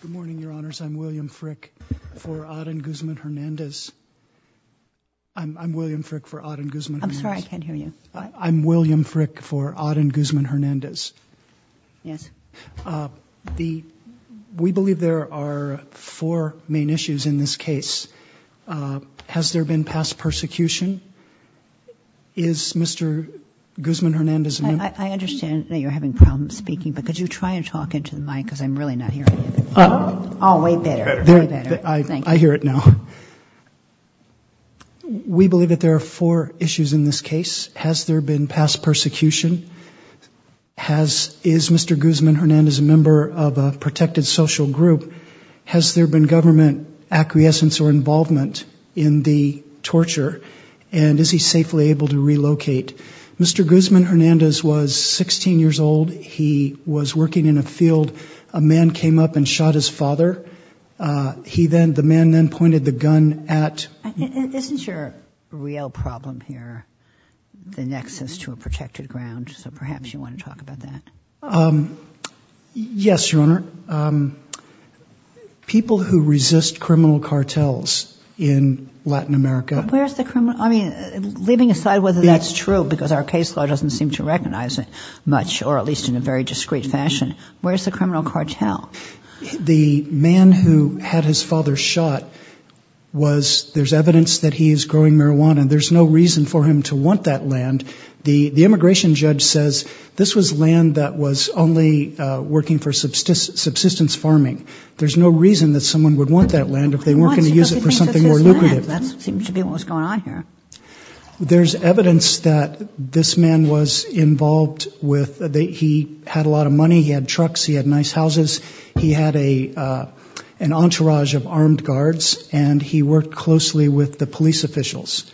Good morning, Your Honors. I'm William Frick for Adan Guzman-Hernandez. I'm William Frick for Adan Guzman-Hernandez. I'm sorry, I can't hear you. I'm William Frick for Adan Guzman-Hernandez. Yes. We believe there are four main issues in this case. Has there been past persecution? Is Mr. Guzman-Hernandez... I understand that you're having problems speaking, but could you try and talk into the mic, because I'm really not hearing you. Oh, way better, way better. Thank you. I hear it now. We believe that there are four issues in this case. Has there been past persecution? Is Mr. Guzman-Hernandez a member of a protected social group? Has there been government acquiescence or involvement in the torture? And is he safely able to relocate? Mr. Guzman-Hernandez was 16 years old. He was working in a field. A man came up and shot his father. The man then pointed the gun at... Isn't your real problem here the nexus to a protected ground? So perhaps you want to talk about that. Yes, Your Honor. People who resist criminal cartels in Latin America... I mean, leaving aside whether that's true, because our case law doesn't seem to recognize it much, or at least in a very discreet fashion, where's the criminal cartel? The man who had his father shot was, there's evidence that he's growing marijuana. There's no reason for him to want that land. The immigration judge says this was land that was only working for subsistence farming. There's no reason that someone would want that land if they weren't going to use it for something more lucrative. There's evidence that this man was involved with, he had a lot of money, he had trucks, he had nice houses. He had an entourage of armed guards, and he worked closely with the police officials.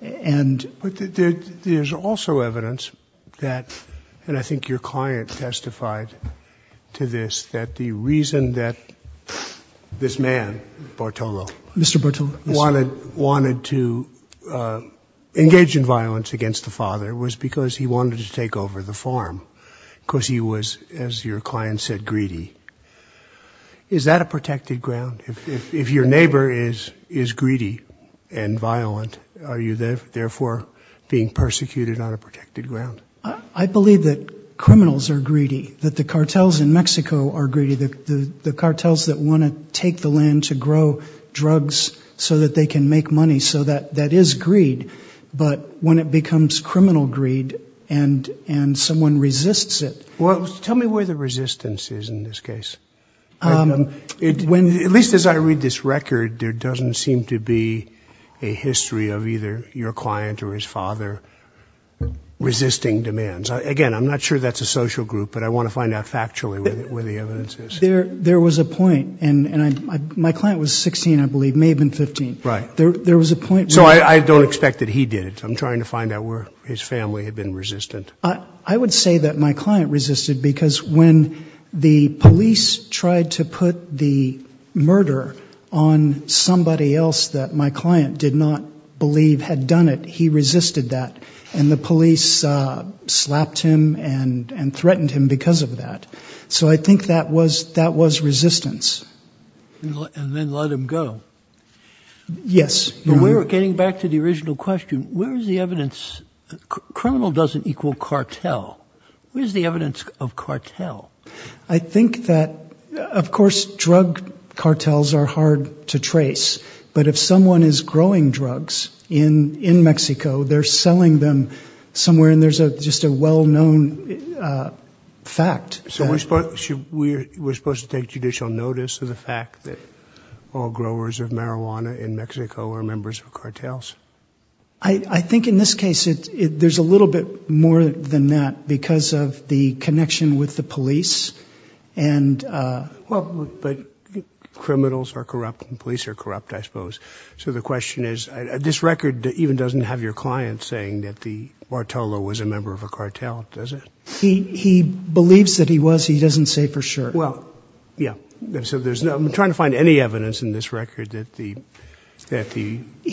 But there's also evidence that, and I think your client testified to this, that the reason that this man, Bartolo... Mr. Bartolo. ...wanted to engage in violence against the father was because he wanted to take over the farm, because he was, as your client said, greedy. Is that a protected ground? If your neighbor is greedy and violent, are you therefore being persecuted on a protected ground? I believe that criminals are greedy, that the cartels in Mexico are greedy. The cartels that want to take the land to grow drugs so that they can make money, so that is greed. But when it becomes criminal greed and someone resists it... Well, tell me where the resistance is in this case. At least as I read this record, there doesn't seem to be a history of either your client or his father resisting demands. Again, I'm not sure that's a social group, but I want to find out factually where the evidence is. There was a point, and my client was 16, I believe, may have been 15. Right. There was a point... So I don't expect that he did it. I'm trying to find out where his family had been resistant. I would say that my client resisted because when the police tried to put the murder on somebody else that my client did not believe had done it, he resisted that. And the police slapped him and threatened him because of that. So I think that was resistance. And then let him go. Yes. Getting back to the original question, where is the evidence? Criminal doesn't equal cartel. Where is the evidence of cartel? I think that, of course, drug cartels are hard to trace. But if someone is growing drugs in Mexico, they're selling them somewhere, and there's just a well-known fact. So we're supposed to take judicial notice of the fact that all growers of marijuana in Mexico are members of cartels? I think in this case there's a little bit more than that because of the connection with the police. Well, but criminals are corrupt and police are corrupt, I suppose. So the question is, this record even doesn't have your client saying that the Bartolo was a member of a cartel, does it? He believes that he was. He doesn't say for sure. Well, yeah. I'm trying to find any evidence in this record that the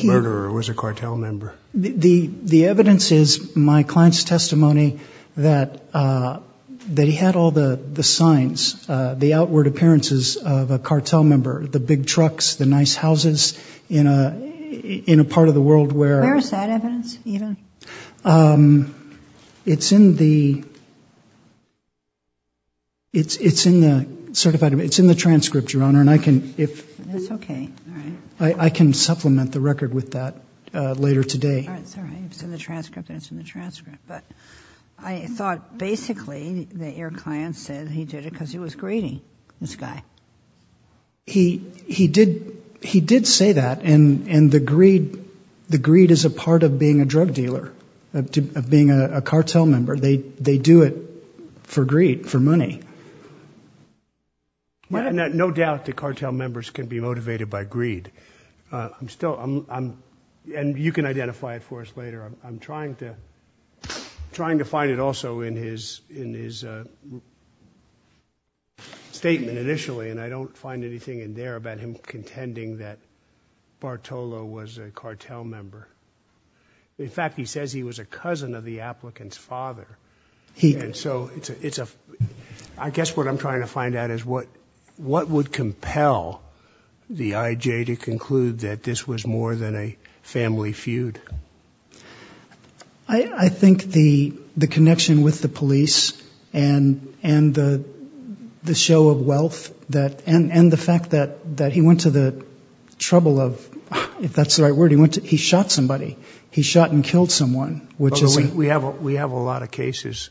murderer was a cartel member. The evidence is my client's testimony that he had all the signs, the outward appearances of a cartel member, the big trucks, the nice houses in a part of the world where- Where is that evidence even? It's in the- it's in the certified- it's in the transcript, Your Honor, and I can- That's okay. I can supplement the record with that later today. That's all right. It's in the transcript. It's in the transcript. But I thought basically that your client said he did it because he was greedy, this guy. He did say that, and the greed is a part of being a drug dealer, of being a cartel member. They do it for greed, for money. No doubt the cartel members can be motivated by greed. I'm still- and you can identify it for us later. I'm trying to find it also in his statement initially, and I don't find anything in there about him contending that Bartolo was a cartel member. In fact, he says he was a cousin of the applicant's father. So it's a- I guess what I'm trying to find out is what would compel the IJ to conclude that this was more than a family feud? I think the connection with the police and the show of wealth, and the fact that he went to the trouble of- if that's the right word- he shot somebody. He shot and killed someone, which is- We have a lot of cases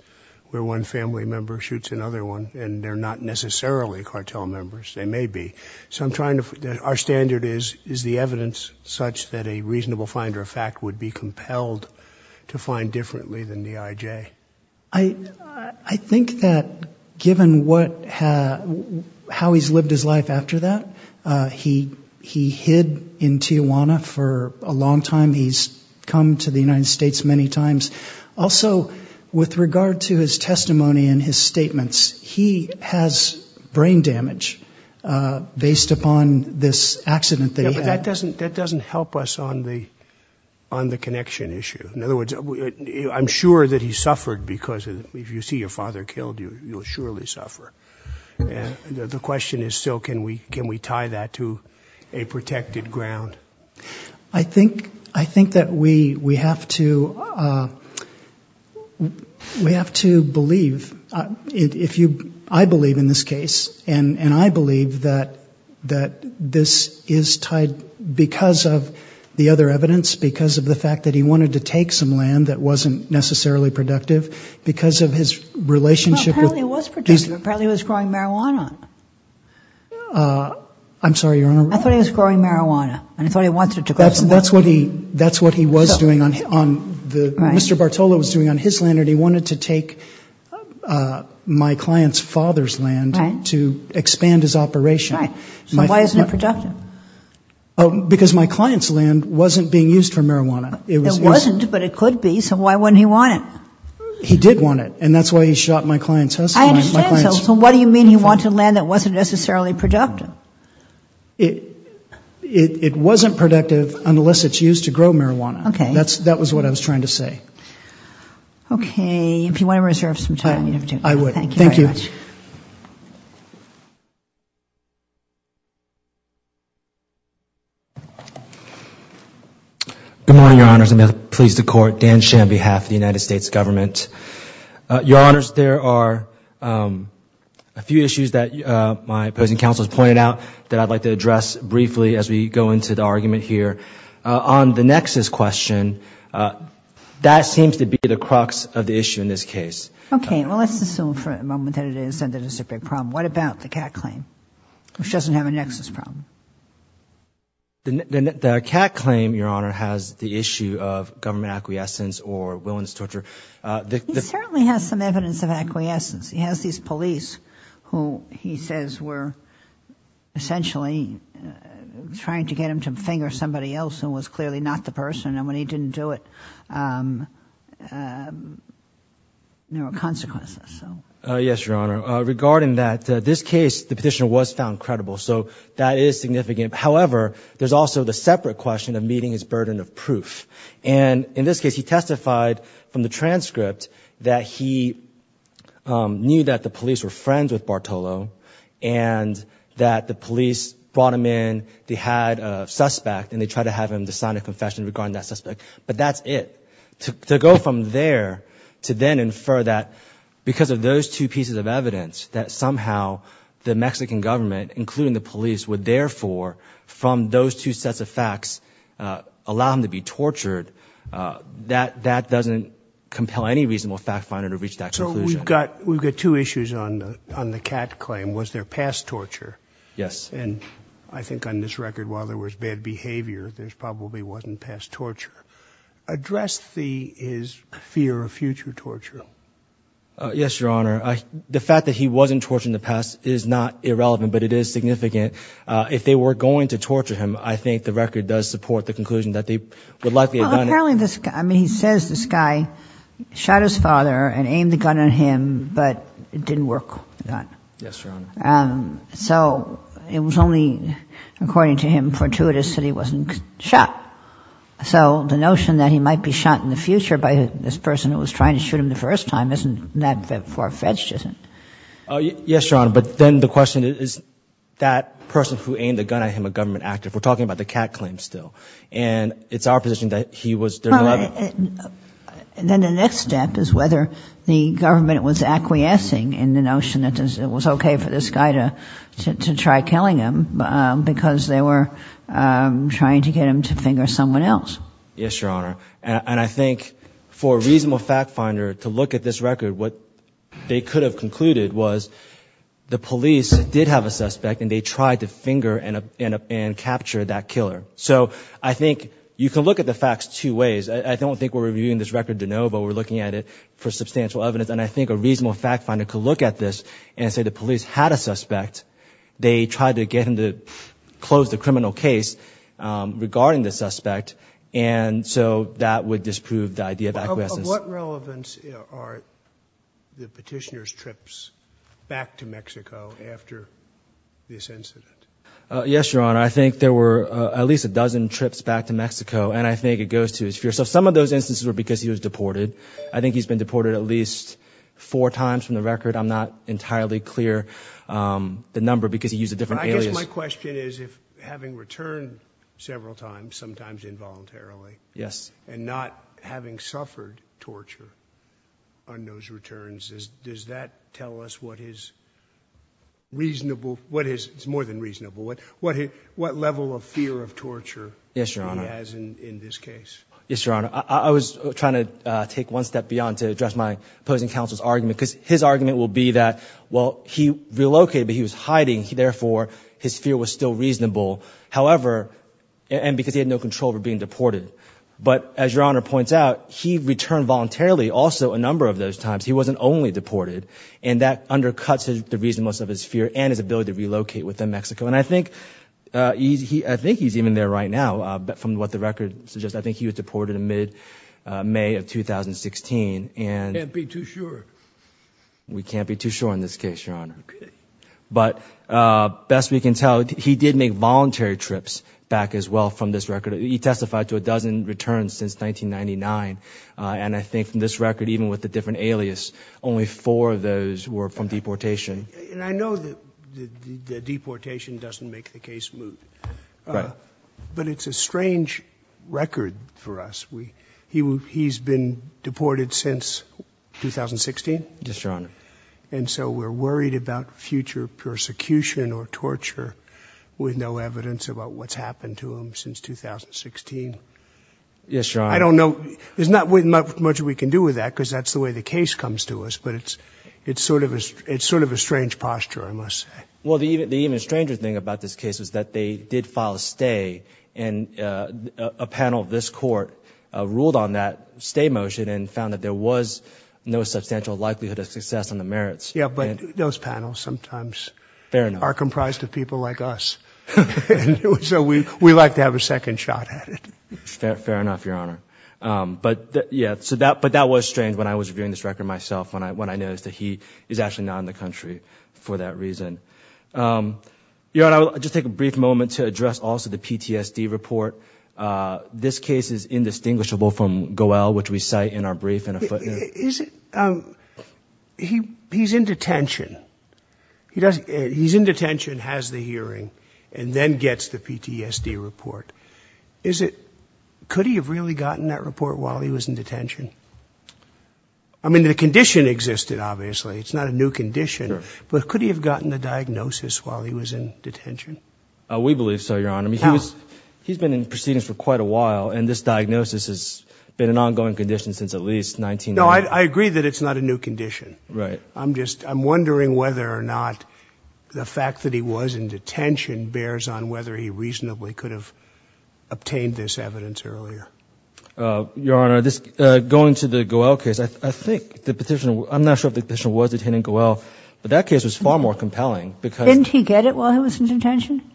where one family member shoots another one, and they're not necessarily cartel members. They may be. So I'm trying to- our standard is the evidence such that a reasonable finder of fact would be compelled to find differently than the IJ. I think that given what- how he's lived his life after that, he hid in Tijuana for a long time. He's come to the United States many times. Also, with regard to his testimony and his statements, he has brain damage based upon this accident that he had. Yeah, but that doesn't help us on the connection issue. In other words, I'm sure that he suffered because if you see your father killed, you'll surely suffer. The question is still can we tie that to a protected ground? I think that we have to believe. I believe in this case, and I believe that this is tied because of the other evidence, because of the fact that he wanted to take some land that wasn't necessarily productive, because of his relationship with- Well, apparently it was productive. Apparently he was growing marijuana. I'm sorry, Your Honor? I thought he was growing marijuana, and I thought he wanted it to grow. That's what he was doing on the- Right. Mr. Bartola was doing on his land, and he wanted to take my client's father's land to expand his operation. Right. So why isn't it productive? Because my client's land wasn't being used for marijuana. It wasn't, but it could be, so why wouldn't he want it? He did want it, and that's why he shot my client's husband. I understand, so what do you mean he wanted land that wasn't necessarily productive? It wasn't productive unless it's used to grow marijuana. Okay. That was what I was trying to say. Okay. If you want to reserve some time, you never do. I would. Thank you very much. Thank you. Good morning, Your Honors, and may it please the Court. Dan Shen on behalf of the United States Government. Your Honors, there are a few issues that my opposing counsel has pointed out that I'd like to address briefly as we go into the argument here. On the nexus question, that seems to be the crux of the issue in this case. Okay. Well, let's assume for a moment that it is and that it's a big problem. What about the Catt claim, which doesn't have a nexus problem? The Catt claim, Your Honor, has the issue of government acquiescence or willingness to torture. He certainly has some evidence of acquiescence. He has these police who he says were essentially trying to get him to finger somebody else who was clearly not the person, and when he didn't do it, there were consequences. Yes, Your Honor. Regarding that, this case, the petitioner was found credible, so that is significant. However, there's also the separate question of meeting his burden of proof. And in this case, he testified from the transcript that he knew that the police were friends with Bartolo and that the police brought him in, they had a suspect, and they tried to have him sign a confession regarding that suspect. But that's it. To go from there to then infer that because of those two pieces of evidence, that somehow the Mexican government, including the police, would therefore, from those two sets of facts, allow him to be tortured, that doesn't compel any reasonable fact finder to reach that conclusion. So we've got two issues on the Catt claim. Was there past torture? Yes. And I think on this record, while there was bad behavior, there probably wasn't past torture. Address his fear of future torture. Yes, Your Honor. The fact that he wasn't tortured in the past is not irrelevant, but it is significant. If they were going to torture him, I think the record does support the conclusion that they would likely have done it. Well, apparently this guy, I mean, he says this guy shot his father and aimed the gun at him, but it didn't work. Yes, Your Honor. So it was only, according to him, fortuitous that he wasn't shot. So the notion that he might be shot in the future by this person who was trying to shoot him the first time isn't that far-fetched, is it? Yes, Your Honor. But then the question is, is that person who aimed the gun at him a government actor? We're talking about the Catt claim still. And it's our position that he was there. Then the next step is whether the government was acquiescing in the notion that it was okay for this guy to try killing him because they were trying to get him to finger someone else. Yes, Your Honor. And I think for a reasonable fact finder to look at this record, what they could have concluded was the police did have a suspect and they tried to finger and capture that killer. So I think you can look at the facts two ways. I don't think we're reviewing this record de novo. We're looking at it for substantial evidence. And I think a reasonable fact finder could look at this and say the police had a suspect. They tried to get him to close the criminal case regarding the suspect, and so that would disprove the idea of acquiescence. Of what relevance are the petitioner's trips back to Mexico after this incident? Yes, Your Honor. I think there were at least a dozen trips back to Mexico, and I think it goes to his fear. So some of those instances were because he was deported. I think he's been deported at least four times from the record. I'm not entirely clear the number because he used a different alias. And I guess my question is if having returned several times, sometimes involuntarily, and not having suffered torture on those returns, does that tell us what his reasonable—it's more than reasonable—what level of fear of torture he has in this case? Yes, Your Honor. I was trying to take one step beyond to address my opposing counsel's argument because his argument will be that, well, he relocated, but he was hiding. Therefore, his fear was still reasonable, however—and because he had no control over being deported. But as Your Honor points out, he returned voluntarily also a number of those times. He wasn't only deported, and that undercuts the reasonableness of his fear and his ability to relocate within Mexico. And I think he's even there right now from what the record suggests. I think he was deported in mid-May of 2016. We can't be too sure. We can't be too sure in this case, Your Honor. But best we can tell, he did make voluntary trips back as well from this record. He testified to a dozen returns since 1999. And I think from this record, even with the different alias, only four of those were from deportation. And I know that the deportation doesn't make the case smooth. Right. But it's a strange record for us. He's been deported since 2016? Yes, Your Honor. And so we're worried about future persecution or torture with no evidence about what's happened to him since 2016? Yes, Your Honor. I don't know. There's not much we can do with that because that's the way the case comes to us. But it's sort of a strange posture, I must say. Well, the even stranger thing about this case is that they did file a stay. And a panel of this court ruled on that stay motion and found that there was no substantial likelihood of success on the merits. Yes, but those panels sometimes are comprised of people like us. So we like to have a second shot at it. Fair enough, Your Honor. But that was strange when I was reviewing this record myself when I noticed that he is actually not in the country for that reason. Your Honor, I'll just take a brief moment to address also the PTSD report. This case is indistinguishable from Goel, which we cite in our brief in a footnote. He's in detention. He's in detention, has the hearing, and then gets the PTSD report. Could he have really gotten that report while he was in detention? I mean, the condition existed, obviously. It's not a new condition. But could he have gotten the diagnosis while he was in detention? We believe so, Your Honor. How? He's been in proceedings for quite a while, and this diagnosis has been an ongoing condition since at least 1990. No, I agree that it's not a new condition. Right. I'm just wondering whether or not the fact that he was in detention bears on whether he reasonably could have obtained this evidence earlier. Your Honor, going to the Goel case, I think the petitioner, I'm not sure if the petitioner was detaining Goel, but that case was far more compelling. Didn't he get it while he was in detention?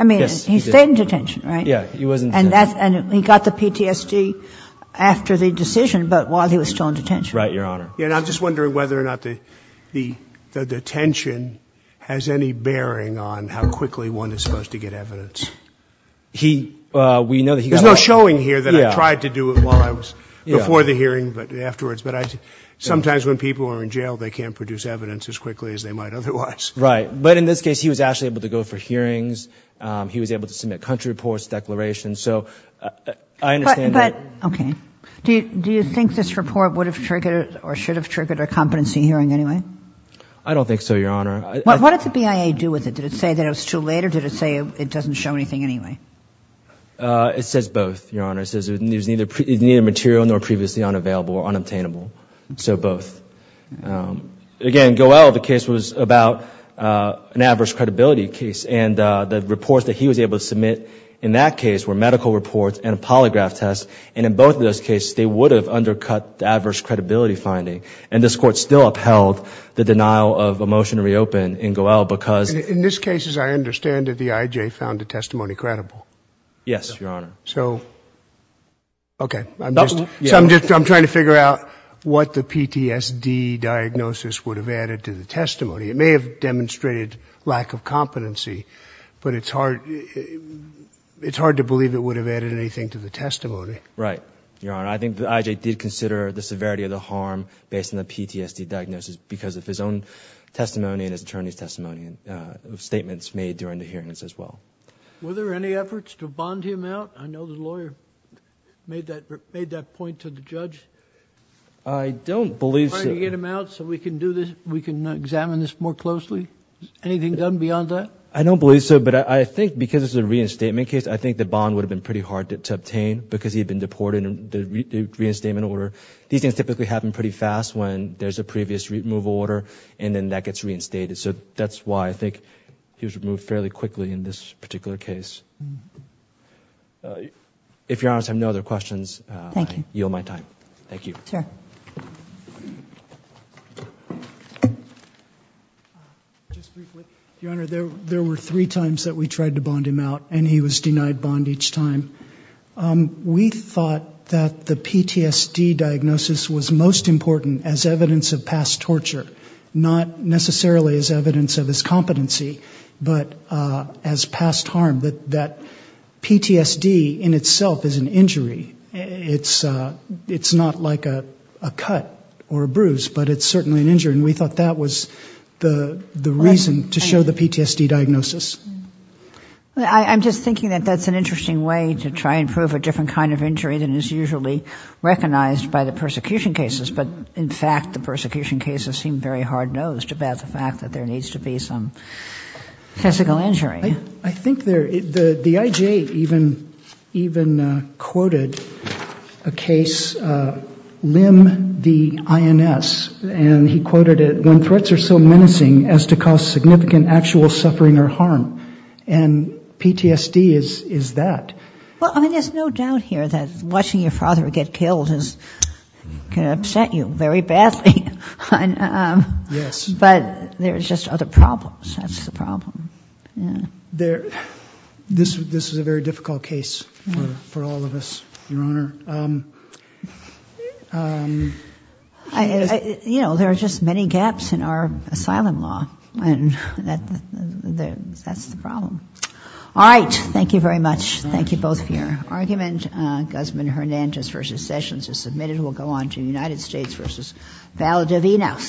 I mean, he stayed in detention, right? Yeah, he was in detention. And he got the PTSD after the decision, but while he was still in detention. Right, Your Honor. Yeah, and I'm just wondering whether or not the detention has any bearing on how quickly one is supposed to get evidence. We know that he got it. There's no showing here that I tried to do it while I was before the hearing, but afterwards. But sometimes when people are in jail, they can't produce evidence as quickly as they might otherwise. Right. But in this case, he was actually able to go for hearings. He was able to submit country reports, declarations. So I understand that. Okay. Do you think this report would have triggered or should have triggered a competency hearing anyway? I don't think so, Your Honor. What did the BIA do with it? Did it say that it was too late, or did it say it doesn't show anything anyway? It says both, Your Honor. It says it was neither material nor previously unavailable or unobtainable. So both. Again, Goel, the case was about an adverse credibility case. And the reports that he was able to submit in that case were medical reports and a polygraph test. And in both of those cases, they would have undercut the adverse credibility finding. And this Court still upheld the denial of a motion to reopen in Goel because— In this case, as I understand it, the IJ found the testimony credible. Yes, Your Honor. So, okay. So I'm just trying to figure out what the PTSD diagnosis would have added to the testimony. It may have demonstrated lack of competency, but it's hard to believe it would have added anything to the testimony. Right, Your Honor. I think the IJ did consider the severity of the harm based on the PTSD diagnosis because of his own testimony and his attorney's testimony, statements made during the hearings as well. Were there any efforts to bond him out? I know the lawyer made that point to the judge. I don't believe so. Can we get him out so we can do this, we can examine this more closely? Anything done beyond that? I don't believe so, but I think because it's a reinstatement case, I think the bond would have been pretty hard to obtain because he had been deported in the reinstatement order. These things typically happen pretty fast when there's a previous removal order and then that gets reinstated. So that's why I think he was removed fairly quickly in this particular case. If Your Honor has no other questions, I yield my time. Thank you. Sir. Just briefly, Your Honor, there were three times that we tried to bond him out and he was denied bond each time. We thought that the PTSD diagnosis was most important as evidence of past torture, not necessarily as evidence of his competency, but as past harm, that PTSD in itself is an injury. It's not like a cut or a bruise, but it's certainly an injury, and we thought that was the reason to show the PTSD diagnosis. I'm just thinking that that's an interesting way to try and prove a different kind of injury than is usually recognized by the persecution cases, but in fact the persecution cases seem very hard-nosed about the fact that there needs to be some physical injury. I think the IJ even quoted a case, Lim, the INS, and he quoted it, when threats are so menacing as to cause significant actual suffering or harm. And PTSD is that. Well, I mean, there's no doubt here that watching your father get killed can upset you very badly. Yes. But there's just other problems. That's the problem. This is a very difficult case for all of us, Your Honor. You know, there are just many gaps in our asylum law, and that's the problem. All right. Thank you very much. Thank you both for your argument. Guzman-Hernandez v. Sessions is submitted. We'll go on to United States v. Valdivino.